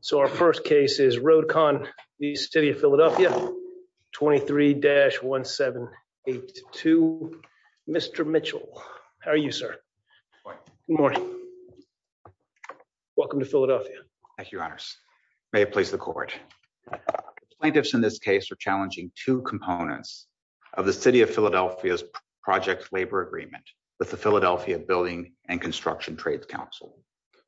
So our first case is Road-Con v. City of Philadelphia 23-1782. Mr. Mitchell, how are you, sir? Welcome to Philadelphia. Thank you, Your Honors. May it please the Court. Plaintiffs in this case are challenging two components of the City of Philadelphia's Project Labor Agreement with the Philadelphia Building and Construction Trades Council.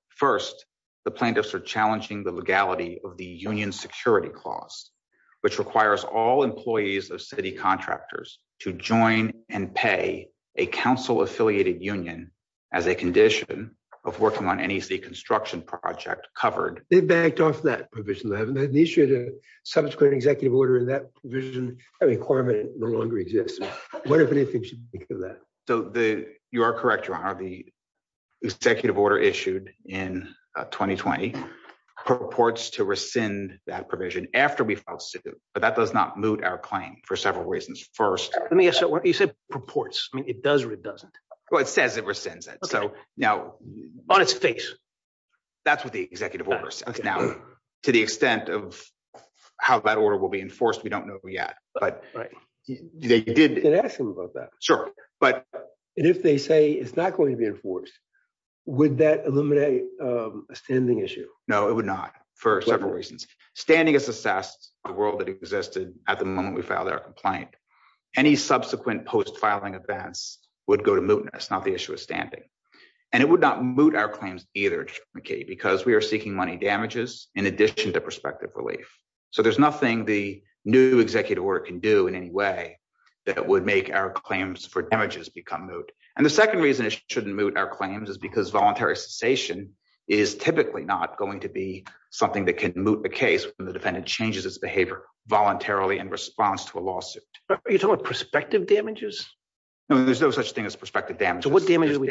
First, the plaintiffs are challenging the legality of the Union Security Clause, which requires all employees of city contractors to join and pay a council-affiliated union as a condition of working on any city construction project covered. They've backed off that provision. They haven't initiated a subsequent executive order in that provision. That requirement no longer exists. What, if anything, should we think of that? You are correct, Your Honor. The executive order issued in 2020 purports to rescind that provision after we file suit, but that does not moot our claim for several reasons. First, let me ask you, you said purports. I mean, it does or it doesn't? Well, it says it rescinds it, so now... On its face? That's what the executive order says. Now, to the extent of how that order will be enforced, we don't know yet, but they did... Can I ask him about that? Sure, but... And if they say it's not going to be enforced, would that eliminate a standing issue? No, it would not, for several reasons. Standing is assessed on the world that existed at the moment we filed our complaint. Any subsequent post-filing events would go to mootness, not the issue of standing. And it would not moot our claims either, because we are seeking money damages in addition to prospective relief. So there's nothing the new executive order can do in any way that would make our claims for damages become moot. And the second reason it shouldn't moot our claims is because voluntary cessation is typically not going to be something that can moot the case when the defendant changes its behavior voluntarily in response to a lawsuit. Are you talking about prospective damages? No, there's no such thing as prospective damages. So what damages are we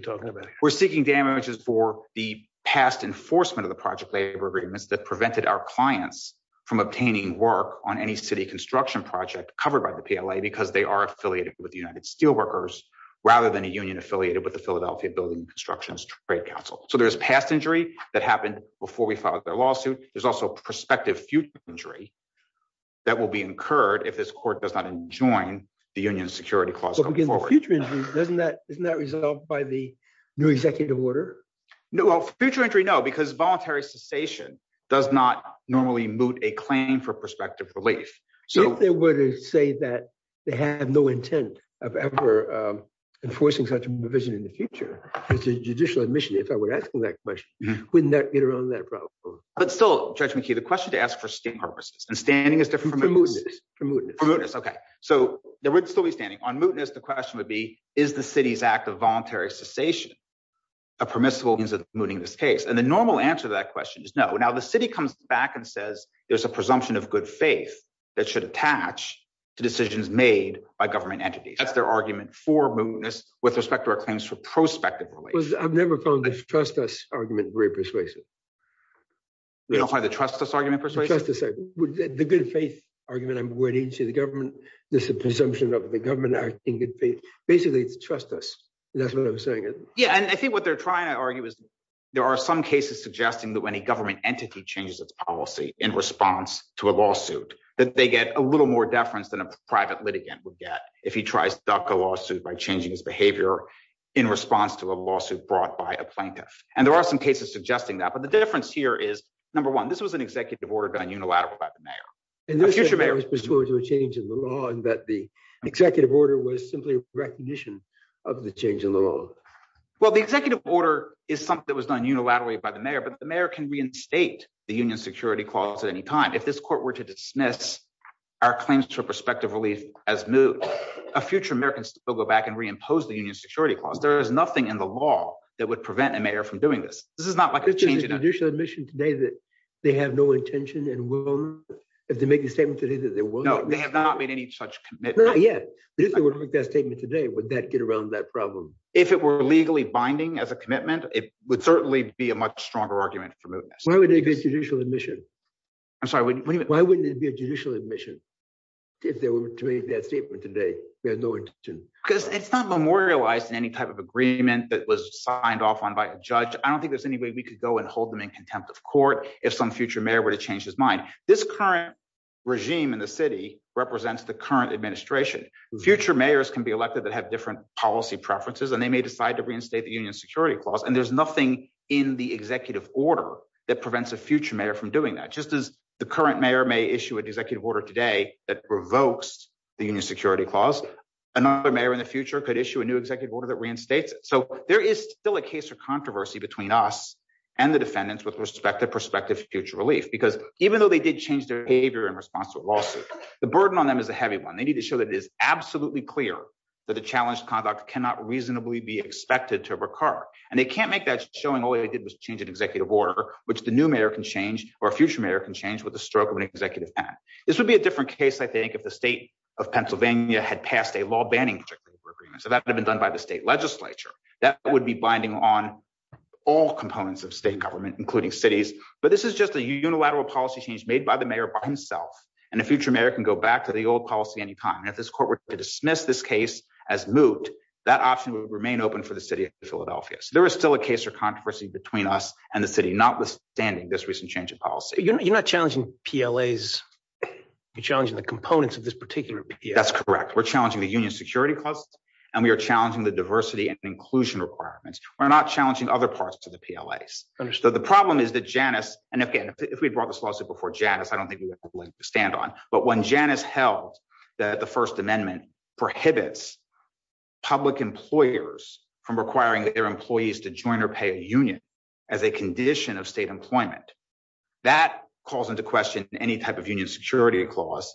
talking about? We're seeking damages for the past enforcement of the project labor agreements that prevented our clients from obtaining work on any city construction project covered by the PLA, because they are affiliated with the United Steelworkers rather than a union affiliated with the Philadelphia Building Constructions Trade Council. So there's past injury that happened before we filed their lawsuit. There's also prospective future injury that will be incurred if this court does not enjoin the union security clause going forward. But future injury, isn't that resolved by the new executive order? Well, future injury, no, because voluntary cessation does not normally moot a claim for prospective relief. If they were to say that they have no intent of ever enforcing such a provision in the future, as a judicial admission, if I were asking that question, wouldn't that get around that problem? But still, Judge McKee, the question to ask for state purposes and standing is different. For mootness. For mootness, okay. So there would still be standing. On mootness, the question would be, is the city's act of voluntary cessation a permissible means of mooting this case? And the normal answer to that question is no. Now, the city comes back and says, there's a presumption of good faith that should attach to decisions made by government entities. That's their argument for mootness with respect to our claims for prospective relief. I've never found the trust us argument very persuasive. You don't find the trust us argument persuasive? Trust us, the good faith argument, I'm aware the agency, the government, there's a presumption of the government acting in good faith. Basically, it's trust us. That's what I'm saying. Yeah, and I think what they're trying to argue is there are some cases suggesting that when a government entity changes its policy in response to a lawsuit, that they get a little more deference than a private litigant would get if he tries to duck a lawsuit by changing his behavior in response to a lawsuit brought by a plaintiff. And there are some cases suggesting that. But the difference here is, number one, this was an executive order done unilaterally by the mayor. And this was pursuant to a change in the law and that the executive order was simply a recognition of the change in the law. Well, the executive order is something that was done unilaterally by the mayor, but the mayor can reinstate the union security clause at any time. If this court were to dismiss our claims to a prospective relief as moved, a future mayor can still go back and reimpose the union security clause. There is nothing in the law that would prevent a mayor from doing this. This is not like a change in a judicial admission today that they have no intention and will if they make a statement today that they will. No, they have not made any such commitment yet. But if they were to make that statement today, would that get around that problem? If it were legally binding as a commitment, it would certainly be a much stronger argument for moving this. Why wouldn't it be a judicial admission? I'm sorry, what do you mean? Why wouldn't it be a judicial admission if they were to make that statement today? We have no intention. Because it's not memorialized in any type of agreement that was signed off on by a judge. I don't think there's any way we could go and hold them in contempt of court if some future mayor were to change his mind. This current regime in the city represents the current administration. Future mayors can be elected that have different policy preferences, and they may decide to reinstate the union security clause. And there's nothing in the executive order that prevents a future mayor from doing that. Just as the current mayor may issue an executive order today that revokes the union security clause, another mayor in the future could issue a new executive order that reinstates it. So there is still a case for controversy between us and the defendants with respect to prospective future relief. Because even though they did change their behavior in response to a lawsuit, the burden on them is a heavy one. They need to show that it is absolutely clear that the challenged conduct cannot reasonably be expected to recur. And they can't make that showing all they did was change an executive order, which the new mayor can change or a future mayor can change with the stroke of an executive hat. This would be a different case, I think, if the state of Pennsylvania had passed a law banning particular agreement. So that would have been done by the state legislature. That would be binding on all components of state government, including cities. But this is just a unilateral policy change made by the mayor by himself. And a future mayor can go back to the old policy anytime. And if this court were to dismiss this case as moot, that option would remain open for the city of Philadelphia. So there is still a case for controversy between us and the city, notwithstanding this recent change of policy. You're not challenging PLAs, you're challenging the components of this particular PLA. That's correct. We're challenging the union security clause, and we are challenging the diversity and inclusion requirements. We're not challenging other parts of the PLAs. Understood. The problem is that Janice, and again, if we brought this lawsuit before Janice, I don't stand on, but when Janice held that the First Amendment prohibits public employers from requiring their employees to join or pay a union as a condition of state employment, that calls into question any type of union security clause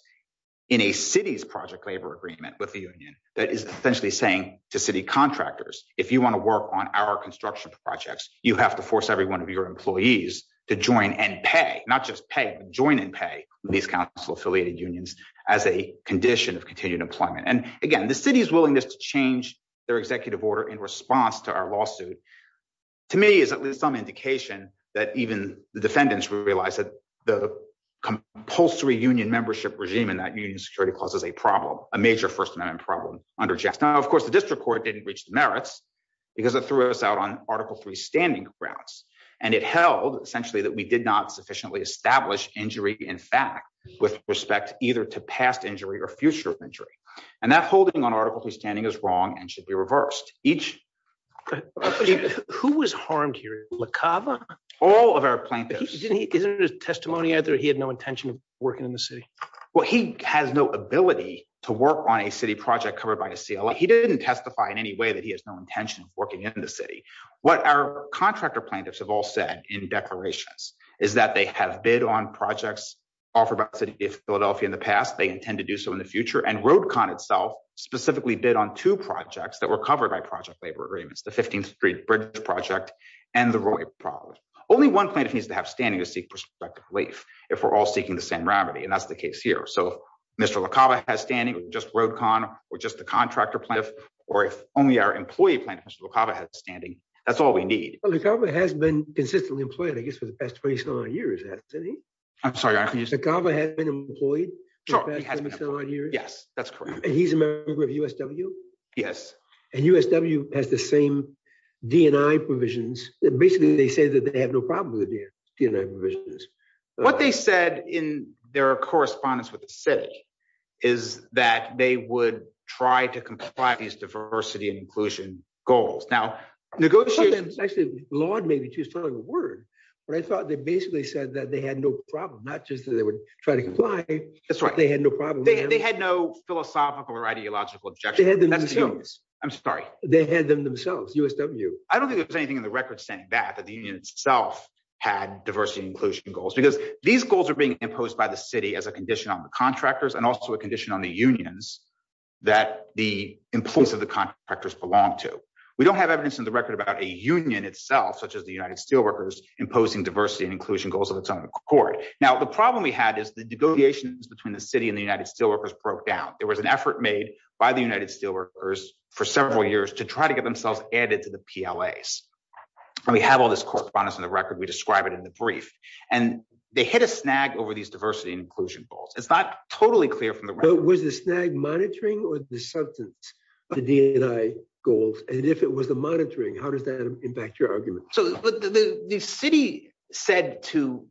in a city's project labor agreement with the union that is essentially saying to city contractors, if you want to work on our construction projects, you have to force every one of your employees to join and pay, not just pay, but join and pay these council-affiliated unions as a condition of continued employment. And again, the city's willingness to change their executive order in response to our lawsuit, to me, is at least some indication that even the defendants realize that the compulsory union membership regime in that union security clause is a problem, a major First Amendment problem under Janice. Now, of course, the district court didn't reach the merits because it threw us out on established injury in fact, with respect either to past injury or future injury. And that holding on Article 3 standing is wrong and should be reversed. Who was harmed here? LaCava? All of our plaintiffs. Isn't it a testimony that he had no intention of working in the city? Well, he has no ability to work on a city project covered by a CLA. He didn't testify in any way that he has no intention of working in the city. What our contractor plaintiffs have all said in declarations is that they have bid on projects offered by the City of Philadelphia in the past. They intend to do so in the future. And RoadCon itself specifically bid on two projects that were covered by project labor agreements, the 15th Street Bridge Project and the Roy Project. Only one plaintiff needs to have standing to seek prospective leave if we're all seeking the same remedy. And that's the case here. So if Mr. LaCava has standing, just RoadCon, or just the contractor plaintiff, or if only our employee plaintiff, Mr. LaCava, has standing, that's all we need. Well, LaCava has been consistently employed, I guess, for the past 20-some odd years at the city. I'm sorry, I didn't hear you. LaCava has been employed for the past 20-some odd years? Yes, that's correct. And he's a member of USW? Yes. And USW has the same D&I provisions. Basically, they say that they have no problem with the D&I provisions. What they said in their correspondence with the city is that they would try to comply with these diversity and inclusion goals. Now, negotiations— Actually, laud may be too strong of a word. But I thought they basically said that they had no problem, not just that they would try to comply. That's right. They had no problem. They had no philosophical or ideological objection. They had them themselves. I'm sorry. They had them themselves, USW. I don't think there's anything in the record saying that, that the union itself had diversity and inclusion goals. Because these goals are being imposed by the city as a condition on the contractors and also a condition on the unions that the employees of the contractors belong to. We don't have evidence in the record about a union itself, such as the United Steelworkers, imposing diversity and inclusion goals of its own accord. Now, the problem we had is the negotiations between the city and the United Steelworkers broke down. There was an effort made by the United Steelworkers for several years to try to get themselves added to the PLAs. We have all this correspondence in the record. We describe it in the brief. And they hit a snag over these diversity and inclusion goals. It's not totally clear from the record. But was the snag monitoring or the substance of the D&I goals? And if it was the monitoring, how does that impact your argument? So the city said to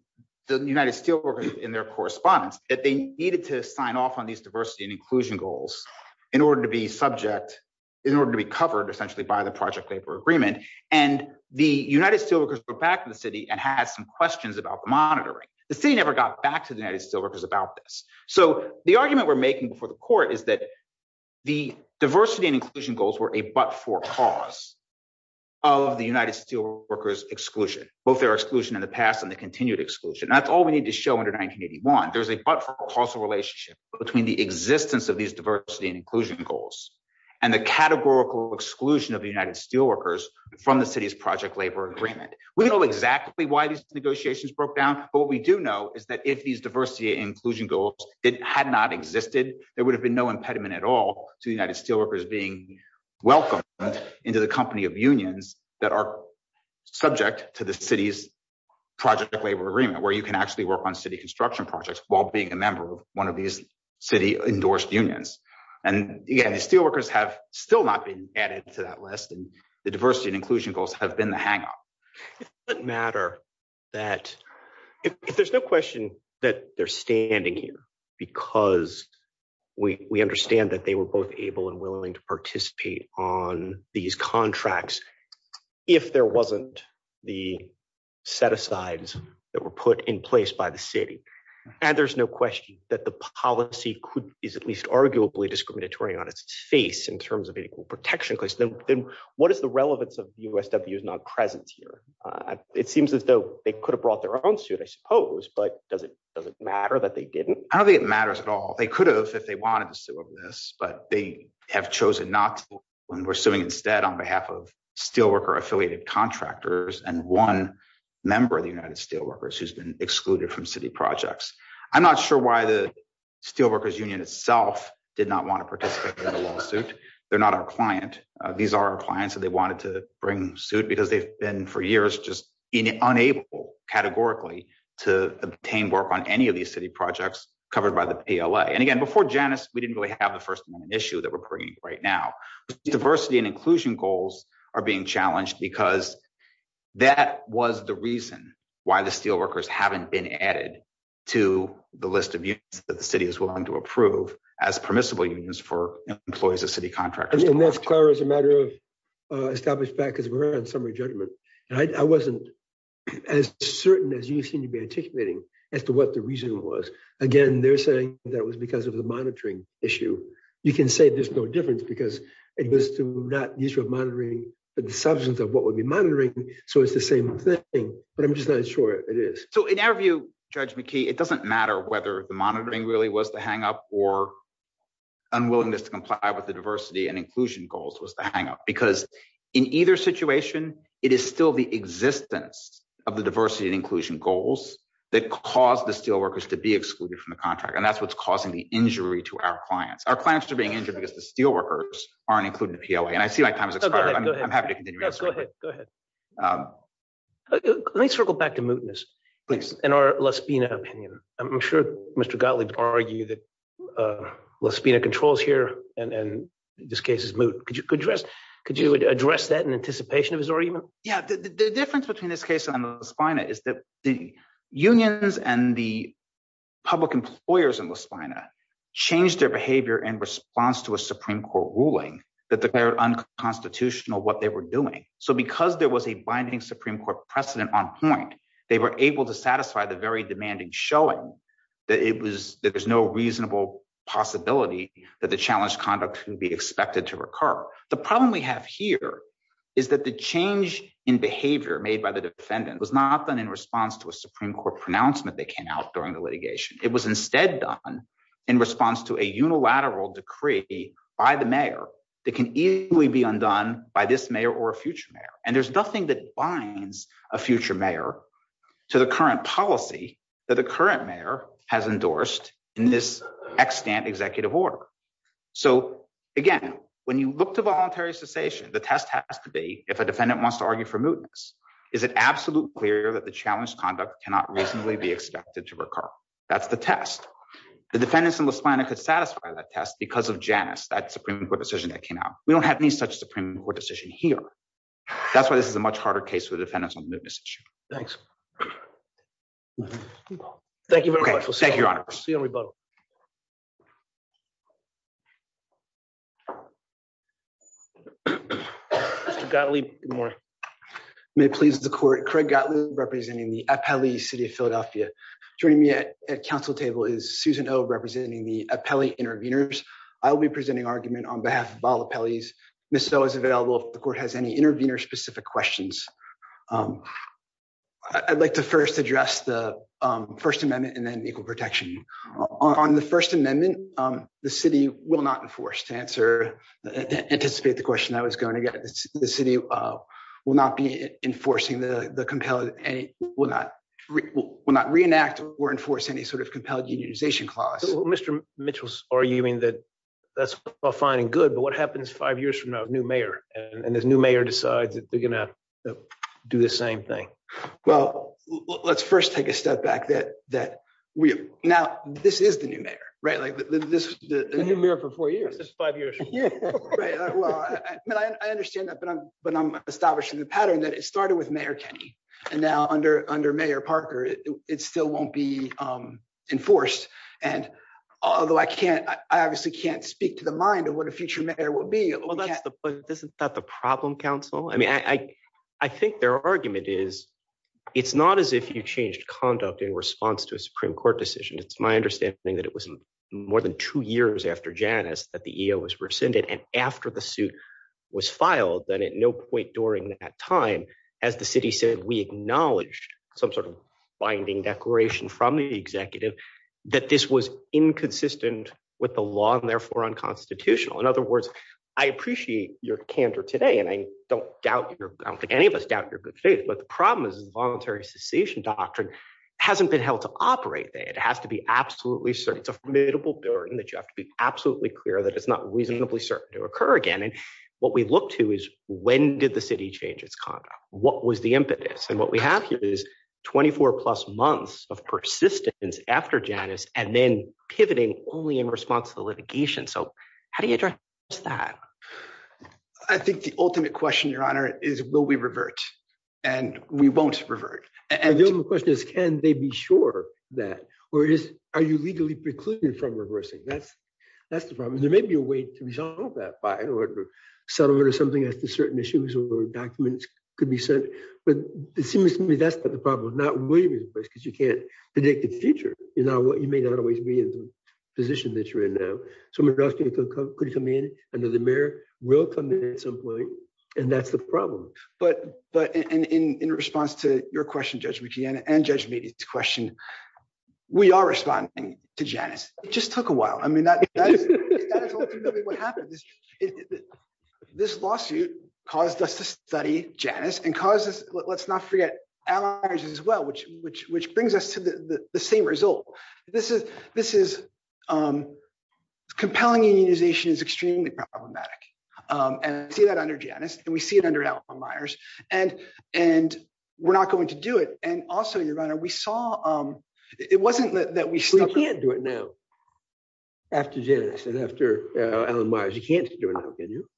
the United Steelworkers in their correspondence that they needed to sign off on these diversity and inclusion goals in order to be subject, in order to be covered essentially by the project labor agreement. And the United Steelworkers went back to the city and had some questions about the monitoring. The city never got back to the United Steelworkers about this. So the argument we're making before the court is that the diversity and inclusion goals were a but-for cause of the United Steelworkers' exclusion. Both their exclusion in the past and the continued exclusion. That's all we need to show under 1981. There's a but-for-cause relationship between the existence of these diversity and inclusion goals and the categorical exclusion of the United Steelworkers from the city's project labor agreement. We know exactly why these negotiations broke down. But what we do know is that if these diversity and inclusion goals had not existed, there would have been no impediment at all to the United Steelworkers being welcomed into the company of unions that are subject to the city's project labor agreement, where you can actually work on city construction projects while being a member of one of these city endorsed unions. And the Steelworkers have still not been added to that list. The diversity and inclusion goals have been the hang-up. It doesn't matter. There's no question that they're standing here because we understand that they were both able and willing to participate on these contracts if there wasn't the set-asides that were put in place by the city. And there's no question that the policy is at least arguably discriminatory on its face in terms of an equal protection case. Then what is the relevance of USW's non-presence here? It seems as though they could have brought their own suit, I suppose. But does it matter that they didn't? I don't think it matters at all. They could have if they wanted to sue over this. But they have chosen not to when we're suing instead on behalf of Steelworker-affiliated contractors and one member of the United Steelworkers who's been excluded from city projects. I'm not sure why the Steelworkers Union itself did not want to participate in the lawsuit. They're not our client. These are our clients that they wanted to bring suit because they've been for years just unable, categorically, to obtain work on any of these city projects covered by the PLA. And again, before Janus, we didn't really have the First Amendment issue that we're bringing right now. Diversity and inclusion goals are being challenged because that was the reason why the list of unions that the city is willing to approve as permissible unions for employees of city contractors. And that's clear as a matter of established fact, because we're on summary judgment. And I wasn't as certain as you seem to be anticipating as to what the reason was. Again, they're saying that it was because of the monitoring issue. You can say there's no difference because it was not the issue of monitoring, but the substance of what would be monitoring. So it's the same thing. But I'm just not sure it is. So in our view, Judge McKee, it doesn't matter whether the monitoring really was the hang up or unwillingness to comply with the diversity and inclusion goals was the hang up. Because in either situation, it is still the existence of the diversity and inclusion goals that caused the steelworkers to be excluded from the contract. And that's what's causing the injury to our clients. Our clients are being injured because the steelworkers aren't included in the PLA. And I see my time has expired. I'm happy to continue. Go ahead. Let me circle back to mootness. Please. In our La Spina opinion. I'm sure Mr. Gottlieb argued that La Spina controls here and this case is moot. Could you address that in anticipation of his argument? Yeah, the difference between this case and La Spina is that the unions and the public employers in La Spina changed their behavior in response to a Supreme Court ruling that declared unconstitutional what they were doing. So because there was a binding Supreme Court precedent on point, they were able to satisfy the very demanding showing that it was that there's no reasonable possibility that the challenge conduct can be expected to recur. The problem we have here is that the change in behavior made by the defendant was not done in response to a Supreme Court pronouncement that came out during the litigation. It was instead done in response to a unilateral decree by the mayor that can easily be undone by this mayor or a future mayor. And there's nothing that binds a future mayor to the current policy that the current mayor has endorsed in this extant executive order. So again, when you look to voluntary cessation, the test has to be if a defendant wants to argue for mootness, is it absolutely clear that the challenge conduct cannot reasonably be expected to recur? That's the test. The defendants in La Spina could satisfy that test because of Janus, that Supreme Court decision that came out. We don't have any such Supreme Court decision here. That's why this is a much harder case for the defendants on the mootness issue. Thanks. Thank you very much. Thank you, Your Honor. See you on rebuttal. Mr. Gottlieb, good morning. May it please the court. Craig Gottlieb representing the Appellee City of Philadelphia. Joining me at council table is Susan O representing the Appellee Interveners. I will be presenting argument on behalf of all appellees. Ms. O is available if the court has any intervener specific questions. I'd like to first address the First Amendment and then equal protection. On the First Amendment, the city will not enforce to answer, anticipate the question I was going to get. The city will not be enforcing the compelled, will not reenact or enforce any sort of compelled unionization clause. Mr. Mitchell's arguing that that's all fine and good. But what happens five years from now, a new mayor and this new mayor decides that they're going to do the same thing? Well, let's first take a step back that that we now this is the new mayor, right? Like this, the new mayor for four years, five years. Well, I understand that. But I'm establishing the pattern that it started with Mayor Kenney. And now under under Mayor Parker, it still won't be enforced. And although I can't, I obviously can't speak to the mind of what a future mayor will be. Isn't that the problem, counsel? I mean, I think their argument is, it's not as if you changed conduct in response to a Supreme Court decision. It's my understanding that it was more than two years after Janice that the EO was rescinded. And after the suit was filed, then at no point during that time, as the city said, we acknowledged some sort of binding declaration from the executive that this was inconsistent with the law and therefore unconstitutional. In other words, I appreciate your candor today. And I don't doubt I don't think any of us doubt your good faith. But the problem is voluntary secession doctrine hasn't been held to operate. It has to be absolutely certain. It's a formidable burden that you have to be absolutely clear that it's not reasonably certain to occur again. And what we look to is when did the city change its conduct? What was the impetus? And what we have here is 24 plus months of persistence after Janice and then pivoting only in response to the litigation. So how do you address that? I think the ultimate question, Your Honor, is will we revert? And we won't revert. And the only question is, can they be sure that? Or are you legally precluded from reversing? That's the problem. There may be a way to resolve that by a settlement or something as to certain issues or documents could be sent. But it seems to me that's not the problem. Not really, because you can't predict the future. You know what? You may not always be in the position that you're in now. Someone else could come in under the mirror, will come in at some point. And that's the problem. But in response to your question, Judge Luigi, and Judge Meade's question, we are responding to Janice. It just took a while. I mean, that is ultimately what happened. But this lawsuit caused us to study Janice and caused us, let's not forget Alan Myers as well, which brings us to the same result. Compelling unionization is extremely problematic. And we see that under Janice. And we see it under Alan Myers. And we're not going to do it. And also, Your Honor, we saw it wasn't that we stopped. We can't do it now after Janice and after Alan Myers. You can't do it now, can you?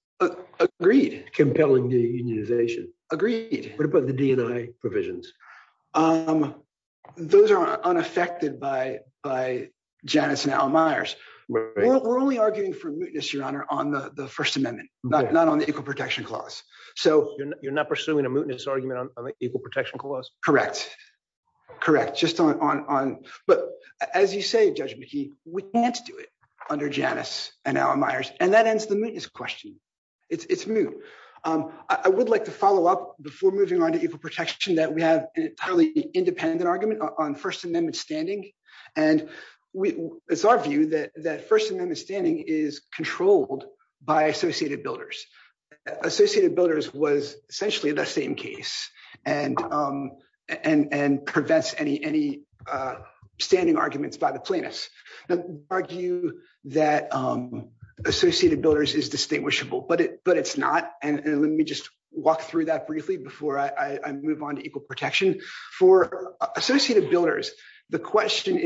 Agreed. Compelling unionization. Agreed. What about the DNI provisions? Those are unaffected by Janice and Alan Myers. We're only arguing for mootness, Your Honor, on the First Amendment, not on the Equal Protection Clause. So you're not pursuing a mootness argument on the Equal Protection Clause? Correct. Correct. Just on, but as you say, Judge McKee, we can't do it under Janice and Alan Myers. And that ends the mootness question. It's moot. I would like to follow up before moving on to equal protection that we have an entirely independent argument on First Amendment standing. And it's our view that First Amendment standing is controlled by Associated Builders. Associated Builders was essentially the same case and prevents any standing arguments by the plaintiffs. Now, we argue that Associated Builders is distinguishable, but it's not. And let me just walk through that briefly before I move on to equal protection. For Associated Builders, the question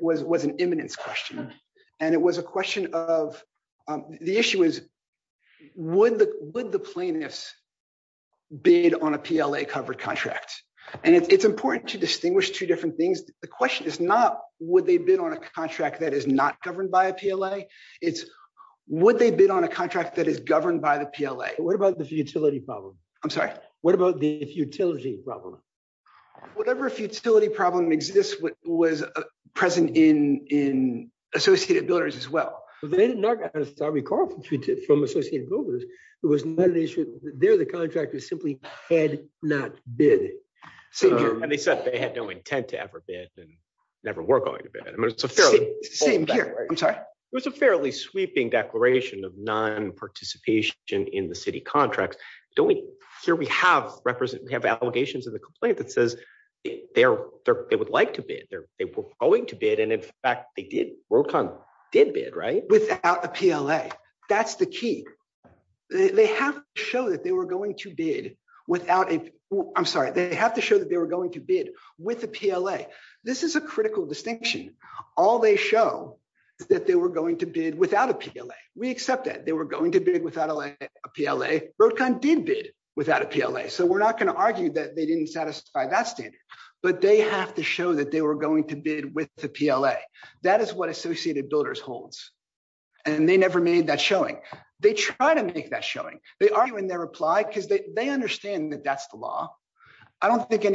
was an imminence question. And it was a question of, the issue is, would the plaintiffs bid on a PLA-covered contract? And it's important to distinguish two different things. The question is not, would they bid on a contract that is not governed by a PLA? It's, would they bid on a contract that is governed by the PLA? What about the futility problem? I'm sorry? What about the futility problem? Whatever futility problem exists was present in Associated Builders as well. They did not get a sorry call from Associated Builders. It was not an issue. There, the contractor simply had not bid. And they said they had no intent to ever bid and never were going to bid. Same here. I'm sorry? It was a fairly sweeping declaration of non-participation in the city contracts. Don't we, here we have represent, we have allegations of the complaint that says they would like to bid. They were going to bid. And in fact, they did. Worldcon did bid, right? Without a PLA. That's the key. They have to show that they were going to bid without a, I'm sorry. They have to show that they were going to bid with the PLA. This is a critical distinction. All they show is that they were going to bid without a PLA. We accept that. They were going to bid without a PLA. Worldcon did bid without a PLA. So we're not going to argue that they didn't satisfy that standard. But they have to show that they were going to bid with the PLA. That is what Associated Builders holds. And they never made that showing. They try to make that showing. They argue in their reply because they understand that that's the law. I don't think they're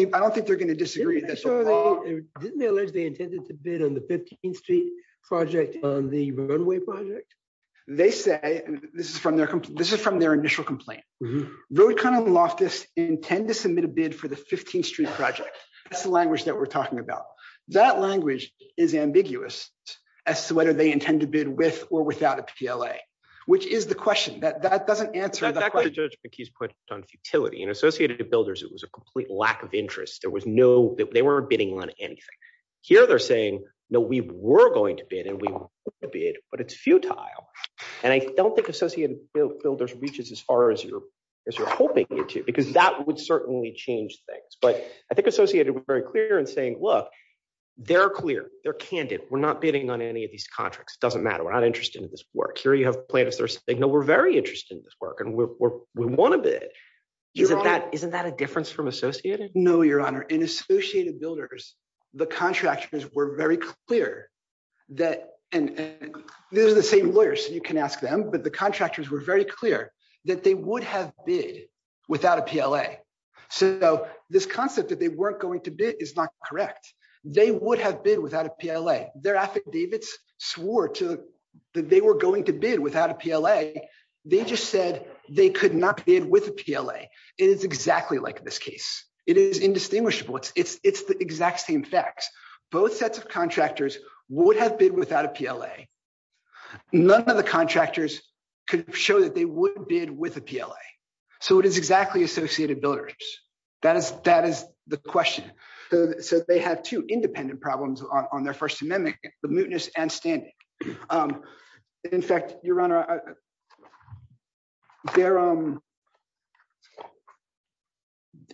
going to disagree. Didn't they allege they intended to bid on the 15th Street project on the runway project? They say, this is from their initial complaint. Worldcon and Loftus intend to submit a bid for the 15th Street project. That's the language that we're talking about. That language is ambiguous as to whether they intend to bid with or without a PLA. Which is the question. That doesn't answer the question. That's the judgment he's put on futility. Associated Builders, it was a complete lack of interest. They weren't bidding on anything. Here they're saying, no, we were going to bid. And we want to bid. But it's futile. And I don't think Associated Builders reaches as far as you're hoping it to. Because that would certainly change things. But I think Associated was very clear in saying, look, they're clear. They're candid. We're not bidding on any of these contracts. It doesn't matter. We're not interested in this work. Here you have plaintiffs. They're saying, no, we're very interested in this work. And we want to bid. Isn't that a difference from Associated? No, Your Honor. In Associated Builders, the contractors were very clear that. These are the same lawyers, so you can ask them. But the contractors were very clear that they would have bid without a PLA. So this concept that they weren't going to bid is not correct. They would have bid without a PLA. Their affidavits swore that they were going to bid without a PLA. They just said they could not bid with a PLA. It is exactly like this case. It is indistinguishable. It's the exact same facts. Both sets of contractors would have bid without a PLA. None of the contractors could show that they would bid with a PLA. So it is exactly Associated Builders. That is the question. So they have two independent problems on their First Amendment, the mootness and standing. In fact, Your Honor, I'm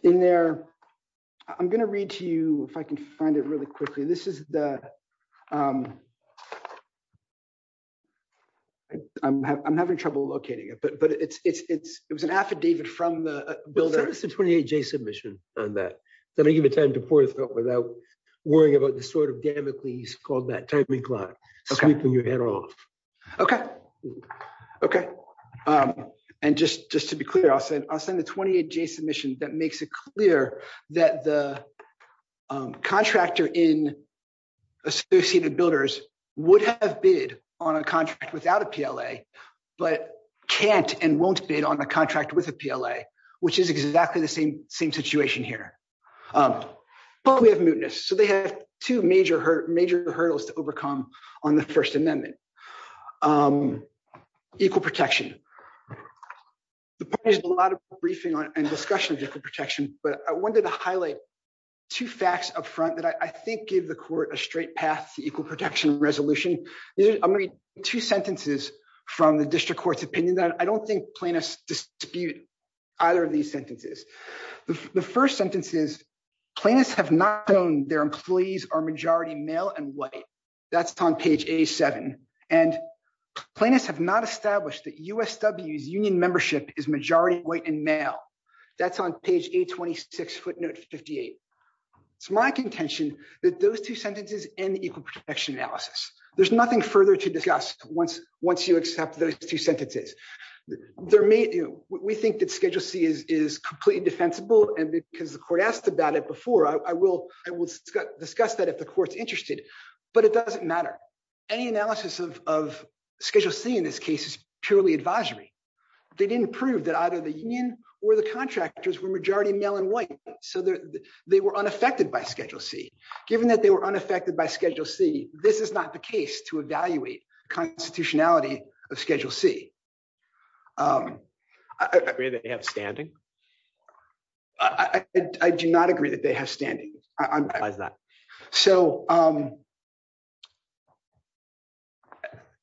going to read to you if I can find it really quickly. I'm having trouble locating it, but it was an affidavit from the builder. Send us a 28-J submission on that. Let me give it time to pour this out without worrying about the sort of damocles called sweeping your head off. Okay. Okay. And just to be clear, I'll send a 28-J submission that makes it clear that the contractor in Associated Builders would have bid on a contract without a PLA, but can't and won't bid on a contract with a PLA, which is exactly the same situation here. But we have mootness. So they have two major hurdles to overcome on the First Amendment. Equal protection. The party has a lot of briefing and discussion of equal protection, but I wanted to highlight two facts up front that I think give the court a straight path to equal protection resolution. I'm going to read two sentences from the district court's opinion. I don't think plaintiffs dispute either of these sentences. The first sentence is, plaintiffs have not known their employees are majority male and white. That's on page A-7. And plaintiffs have not established that USW's union membership is majority white and male. That's on page A-26, footnote 58. It's my contention that those two sentences end equal protection analysis. There's nothing further to discuss once you accept those two sentences. There may... We think that Schedule C is completely defensible. And because the court asked about it before, I will discuss that if the court's interested. But it doesn't matter. Any analysis of Schedule C in this case is purely advisory. They didn't prove that either the union or the contractors were majority male and white. So they were unaffected by Schedule C. Given that they were unaffected by Schedule C, this is not the case to evaluate constitutionality of Schedule C. Do you agree that they have standing? I do not agree that they have standing. So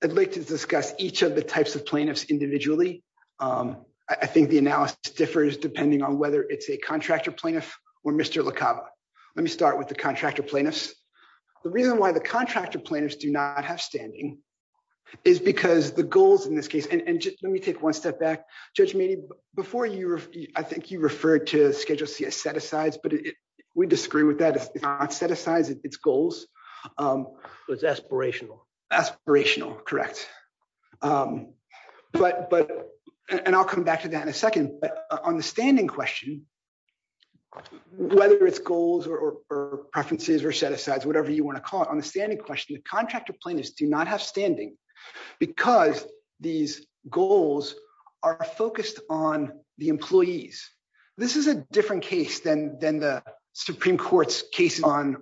I'd like to discuss each of the types of plaintiffs individually. I think the analysis differs depending on whether it's a contractor plaintiff or Mr. LaCava. Let me start with the contractor plaintiffs. The reason why the contractor plaintiffs do not have standing is because the goals in this case... And just let me take one step back. Judge Meaney, before you... I think you referred to Schedule C as set-asides. But we disagree with that. It's not set-asides. It's goals. So it's aspirational. Aspirational. Correct. And I'll come back to that in a second. But on the standing question, whether it's goals or preferences or set-asides, whatever you want to call it, the contractor plaintiffs do not have standing because these goals are focused on the employees. This is a different case than the Supreme Court's case on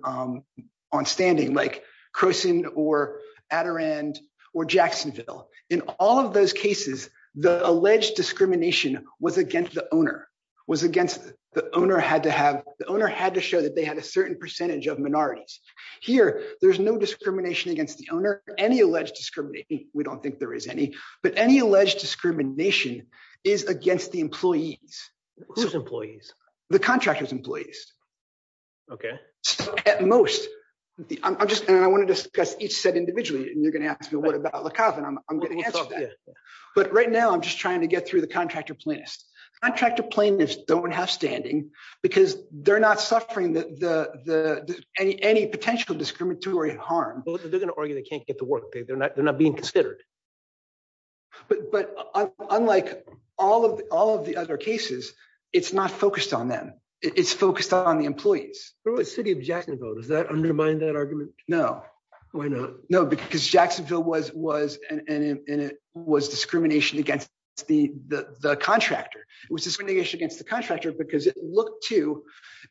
standing, like Croson or Adirond or Jacksonville. In all of those cases, the alleged discrimination was against the owner. The owner had to show that they had a certain percentage of minorities. Here, there's no discrimination against the owner. Any alleged discrimination... We don't think there is any. But any alleged discrimination is against the employees. Whose employees? The contractor's employees. Okay. At most. And I want to discuss each set individually, and you're going to ask me, what about La Cava? And I'm going to answer that. But right now, I'm just trying to get through the contractor plaintiffs. Contractor plaintiffs don't have standing because they're not suffering any potential discriminatory harm. Well, they're going to argue they can't get to work. They're not being considered. But unlike all of the other cases, it's not focused on them. It's focused on the employees. What about the city of Jacksonville? Does that undermine that argument? No. Why not? No, because Jacksonville was discrimination against the contractor. It was discrimination against the contractor because it looked to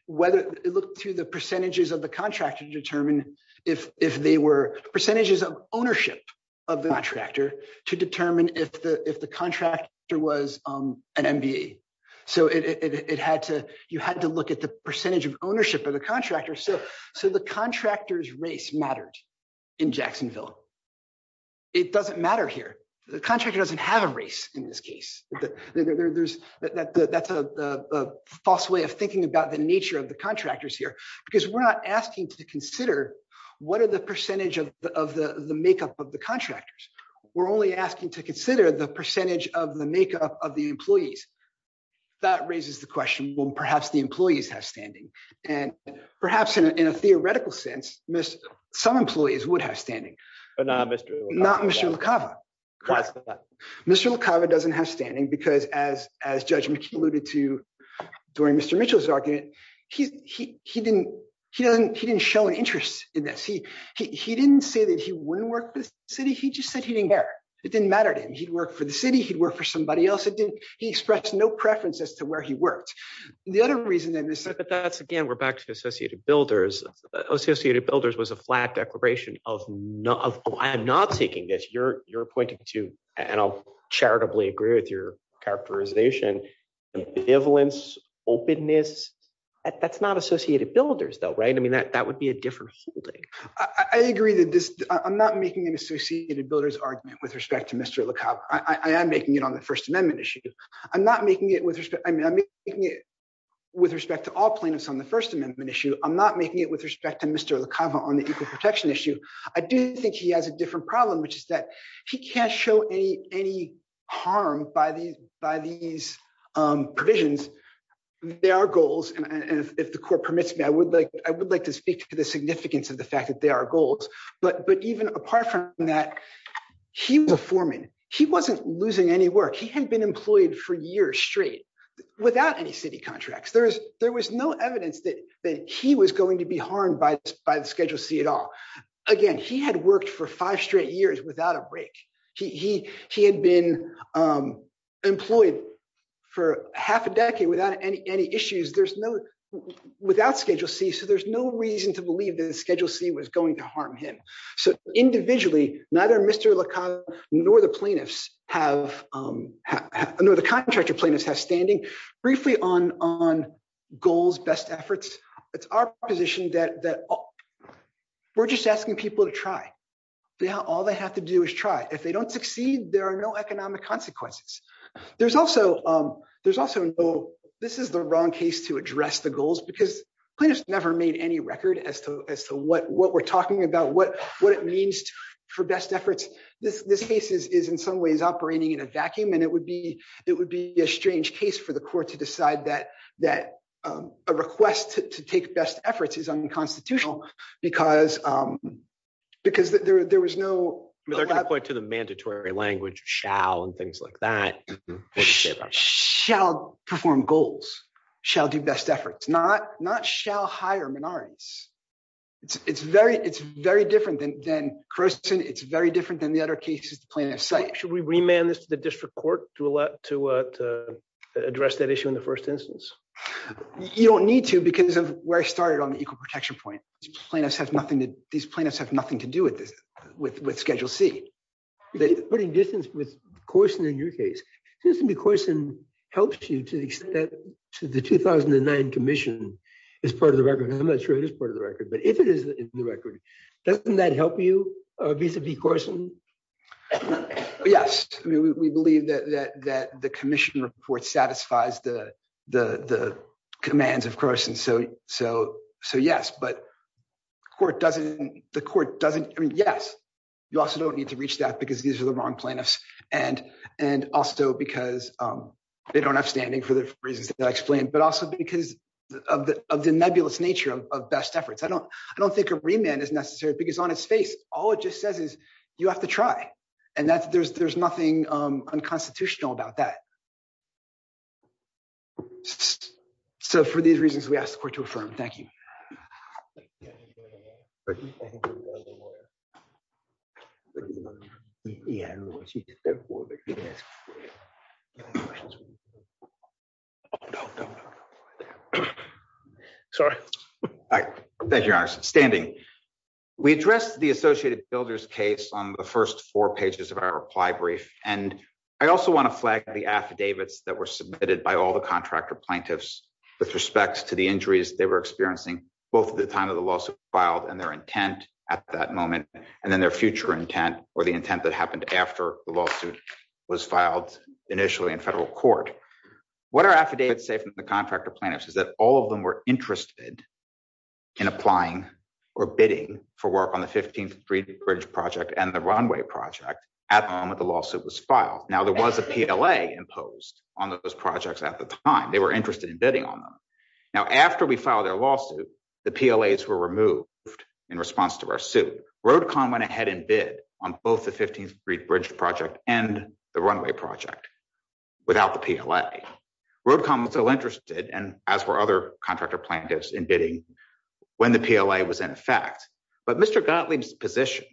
the percentages of the contractor to determine if they were... Percentages of ownership of the contractor to determine if the contractor was an MBA. So you had to look at the percentage of ownership of the contractor. So the contractor's race mattered in Jacksonville. It doesn't matter here. The contractor doesn't have a race in this case. There's... That's a false way of thinking about the nature of the contractors here because we're not asking to consider what are the percentage of the makeup of the contractors. We're only asking to consider the percentage of the makeup of the employees. That raises the question, well, perhaps the employees have standing. And perhaps in a theoretical sense, some employees would have standing. But not Mr. LaCava. Not Mr. LaCava. Why is that? Mr. LaCava doesn't have standing because as Judge McKee alluded to during Mr. Mitchell's argument, he didn't show an interest in this. He didn't say that he wouldn't work for the city. He just said he didn't care. It didn't matter to him. He'd work for the city. He'd work for somebody else. It didn't... He expressed no preference as to where he worked. The other reason that this... But that's, again, we're back to Associated Builders. Associated Builders was a flat declaration of... I am not taking this. You're pointing to, and I'll charitably agree with your characterization, benevolence, openness. That's not Associated Builders though, right? I mean, that would be a different holding. I agree that this... I'm not making an Associated Builders argument with respect to Mr. LaCava. I am making it on the First Amendment issue. I'm not making it with respect... I mean, I'm making it with respect to all plaintiffs on the First Amendment issue. I'm not making it with respect to Mr. LaCava on the equal protection issue. I do think he has a different problem, which is that he can't show any harm by these provisions. There are goals, and if the court permits me, I would like to speak to the significance of the fact that there are goals. But even apart from that, he was a foreman. He wasn't losing any work. He hadn't been employed for years straight without any city contracts. There was no evidence that he was going to be harmed by the Schedule C at all. Again, he had worked for five straight years without a break. He had been employed for half a decade without any issues, without Schedule C, so there's no reason to believe that Schedule C was going to harm him. So individually, neither Mr. LaCava nor the plaintiffs have... No, the contractor plaintiffs have standing. Briefly on goals, best efforts, it's our position that we're just asking people to try. All they have to do is try. If they don't succeed, there are no economic consequences. There's also... This is the wrong case to address the goals because plaintiffs never made any record as to what we're talking about, what it means for best efforts. This case is in some ways operating in a vacuum, and it would be a strange case for the court to decide that a request to take best efforts is unconstitutional because there was no... They're going to point to the mandatory language, shall, and things like that. Shall perform goals, shall do best efforts, not shall hire minorities. It's very different than Croson. It's very different than the other cases the plaintiffs cite. Should we remand this to the district court to address that issue in the first instance? You don't need to because of where I started on the equal protection point. These plaintiffs have nothing to do with Schedule C. Putting distance with Corson in your case, it seems to me Corson helps you to the extent that the 2009 commission is part of the record. I'm not sure it is part of the record, but if it is in the record, doesn't that help you vis-a-vis Corson? Yes. We believe that the commission report satisfies the commands of Corson, so yes. But the court doesn't... I mean, yes, you also don't need to reach that because these are the wrong plaintiffs and also because they don't have standing for the reasons that I explained, but also because of the nebulous nature of best efforts. I don't think a remand is necessary because on its face, all it just says is you have to try and there's nothing unconstitutional about that. So for these reasons, we ask the court to affirm. Thank you. Sorry. All right. Thank you, Your Honor. Standing. We addressed the Associated Builders case on the first four pages of our reply brief, and I also want to flag the affidavits that were submitted by all the contractor plaintiffs with respects to the injuries they were experiencing both at the time of the lawsuit filed and their intent at that moment, and then their future intent or the intent that happened after the lawsuit was filed initially in federal court. What our affidavits say from the contractor plaintiffs is that all of them were interested in applying or bidding for work on the 15th Street Bridge Project and the runway project at the moment the lawsuit was filed. Now, there was a PLA imposed on those projects at the time. They were interested in bidding on them. Now, after we filed their lawsuit, the PLAs were removed in response to our suit. Road Con went ahead and bid on both the 15th Street Bridge Project and the runway project without the PLA. Road Con was still interested, and as were other contractor plaintiffs, in bidding when the PLA was in effect, but Mr. Gottlieb's position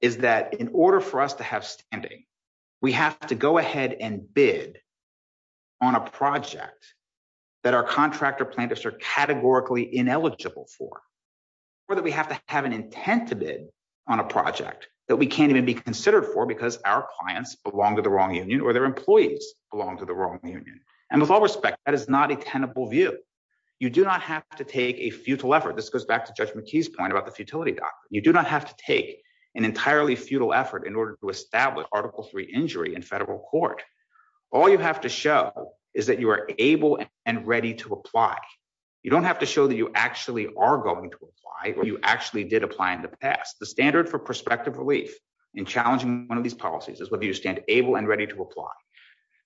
is that in order for us to have standing, we have to go ahead and bid on a project that our contractor plaintiffs are categorically ineligible for or that we have to have an intent to bid on a project that we can't even be considered for because our clients belong to the wrong union or their employees belong to the wrong union. And with all respect, that is not a tenable view. You do not have to take a futile effort. This goes back to Judge McKee's point about the futility doctrine. You do not have to take an entirely futile effort in order to establish Article III injury in federal court. All you have to show is that you are able and ready to apply. You don't have to show that you actually are going to apply or you actually did apply in the past. The standard for prospective relief in challenging one of these policies is whether you stand able and ready to apply.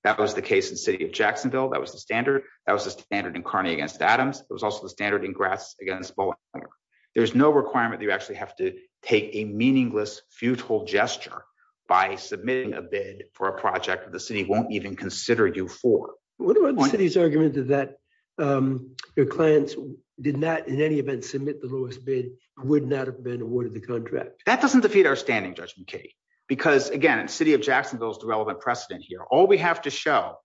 That was the case in the city of Jacksonville. That was the standard. That was the standard in Kearney against Adams. It was also the standard in Grass against Bowling Alley. There's no requirement that you actually have to take a meaningless futile gesture by submitting a bid for a project that the city won't even consider you for. What about the city's argument that your clients did not in any event submit the lowest bid, would not have been awarded the contract? That doesn't defeat our standing, Judge McKee, because again, the city of Jacksonville is the relevant precedent here. All we have to show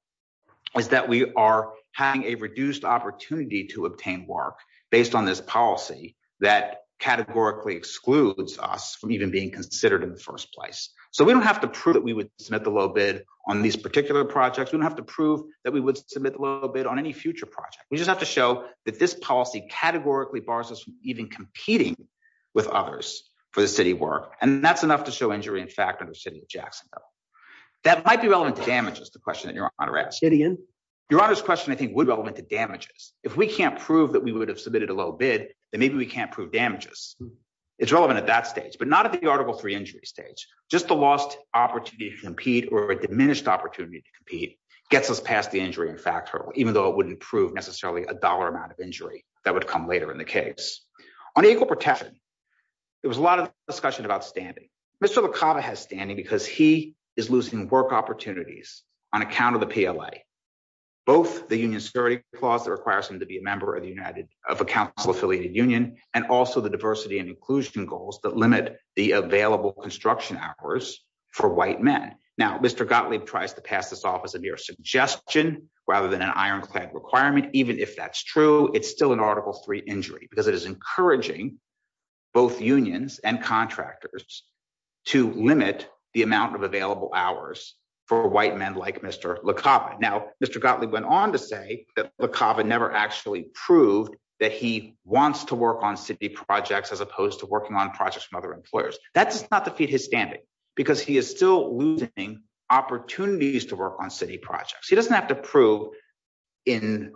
is that we are having a reduced opportunity to obtain work based on this policy that categorically excludes us from even being considered in the first place. So we don't have to prove that we would submit the low bid on these particular projects. We don't have to prove that we would submit the low bid on any future project. We just have to show that this policy categorically bars us from even competing with others for the city work. And that's enough to show injury in fact under the city of Jacksonville. That might be relevant to damages, the question that your honor asked. Yet again? Your honor's question I think would be relevant to damages. If we can't prove that we would have submitted a low bid, then maybe we can't prove damages. It's relevant at that stage, but not at the Article 3 injury stage. Just the lost opportunity to compete or a diminished opportunity to compete gets us past the injury in fact hurdle, even though it wouldn't prove necessarily a dollar amount of injury that would come later in the case. On equal protection, there was a lot of discussion about standing. Mr. Licata has standing because he is losing work opportunities on account of the PLA. Both the union security clause that requires him to be a member of a council affiliated union, and also the diversity and inclusion goals that limit the available construction hours for white men. Now, Mr. Gottlieb tries to pass this off as a mere suggestion rather than an ironclad requirement. Even if that's true, it's still an Article 3 injury because it is encouraging both unions and contractors to limit the amount of available hours for white men like Mr. Licata. Now, Mr. Gottlieb went on to say that Licata never actually proved that he wants to work on city projects as opposed to working on projects from other employers. That does not defeat his standing because he is still losing opportunities to work on city projects. He doesn't have to prove in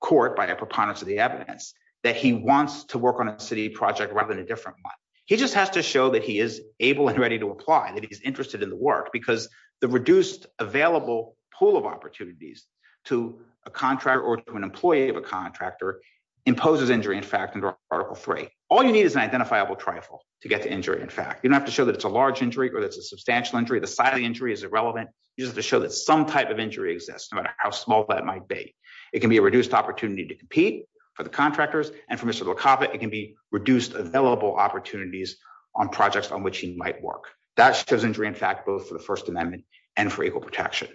court by a preponderance of the evidence that he wants to work on a city project rather than a different one. He just has to show that he is able and ready to apply, that he's interested in the work, because the reduced available pool of opportunities to a contractor or to an employee of a contractor imposes injury, in fact, under Article 3. All you need is an identifiable trifle to get to injury, in fact. You don't have to show that it's a large injury or that's a substantial injury. The size of the injury is irrelevant. You just have to show that some type of injury exists, no matter how small that might be. It can be a reduced opportunity to compete for the contractors, and for Mr. Licata, it can be reduced available opportunities on projects on which he might work. That shows injury, in fact, both for the First Amendment and for equal protection.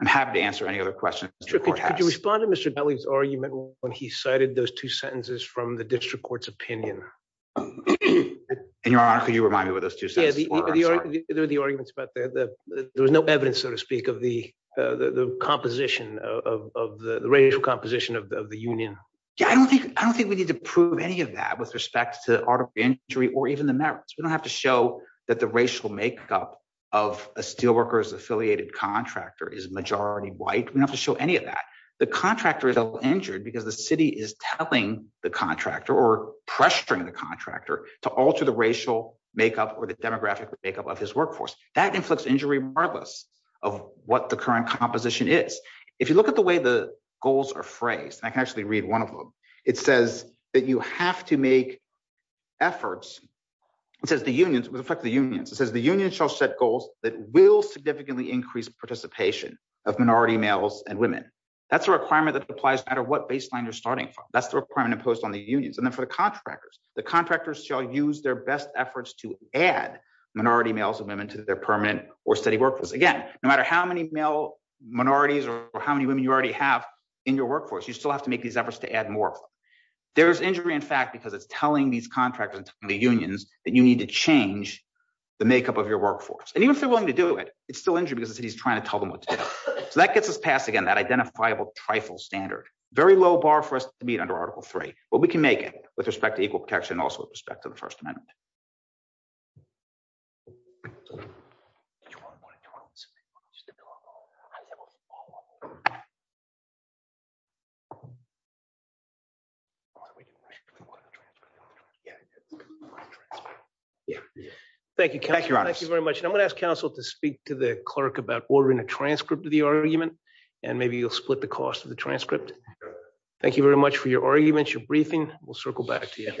I'm happy to answer any other questions. Could you respond to Mr. Kelly's argument when he cited those two sentences from the district court's opinion? And, Your Honor, could you remind me what those two sentences were? Yeah, they're the arguments about there was no evidence, so to speak, of the composition, of the racial composition of the union. Yeah, I don't think we need to prove any of that with respect to Article 3 injury or even the merits. We don't have to show that the racial makeup of a steelworkers-affiliated contractor is majority white. We don't have to show any of that. The contractor is injured because the city is telling the contractor or pressuring the contractor to alter the racial makeup or the demographic makeup of his workforce. That inflicts injury regardless of what the current composition is. If you look at the way the goals are phrased, and I can actually read one of them, it says that you have to make efforts. It says the unions, with respect to the unions, it says the union shall set goals that will significantly increase participation of minority males and women. That's a requirement that applies no matter what baseline you're starting from. That's the requirement imposed on the unions. And then for the contractors, the contractors shall use their best efforts to add minority males and women to their permanent or steady workforce. Again, no matter how many male minorities or how many women you already have in your workforce, you still have to make these efforts to add more of them. There's injury, in fact, because it's telling these contractors and the unions that you need to change the makeup of your workforce. And even if they're willing to do it, it's still injury because the city's trying to tell them what to do. So that gets us past, again, that identifiable trifle standard. Very low bar for us to meet under Article 3, but we can make it with respect to equal protection and also with respect to the First Amendment. Thank you very much. And I'm going to ask counsel to speak to the clerk about ordering a transcript of the argument, and maybe you'll split the cost of the transcript. Thank you very much for your arguments, your briefing. We'll circle back to you.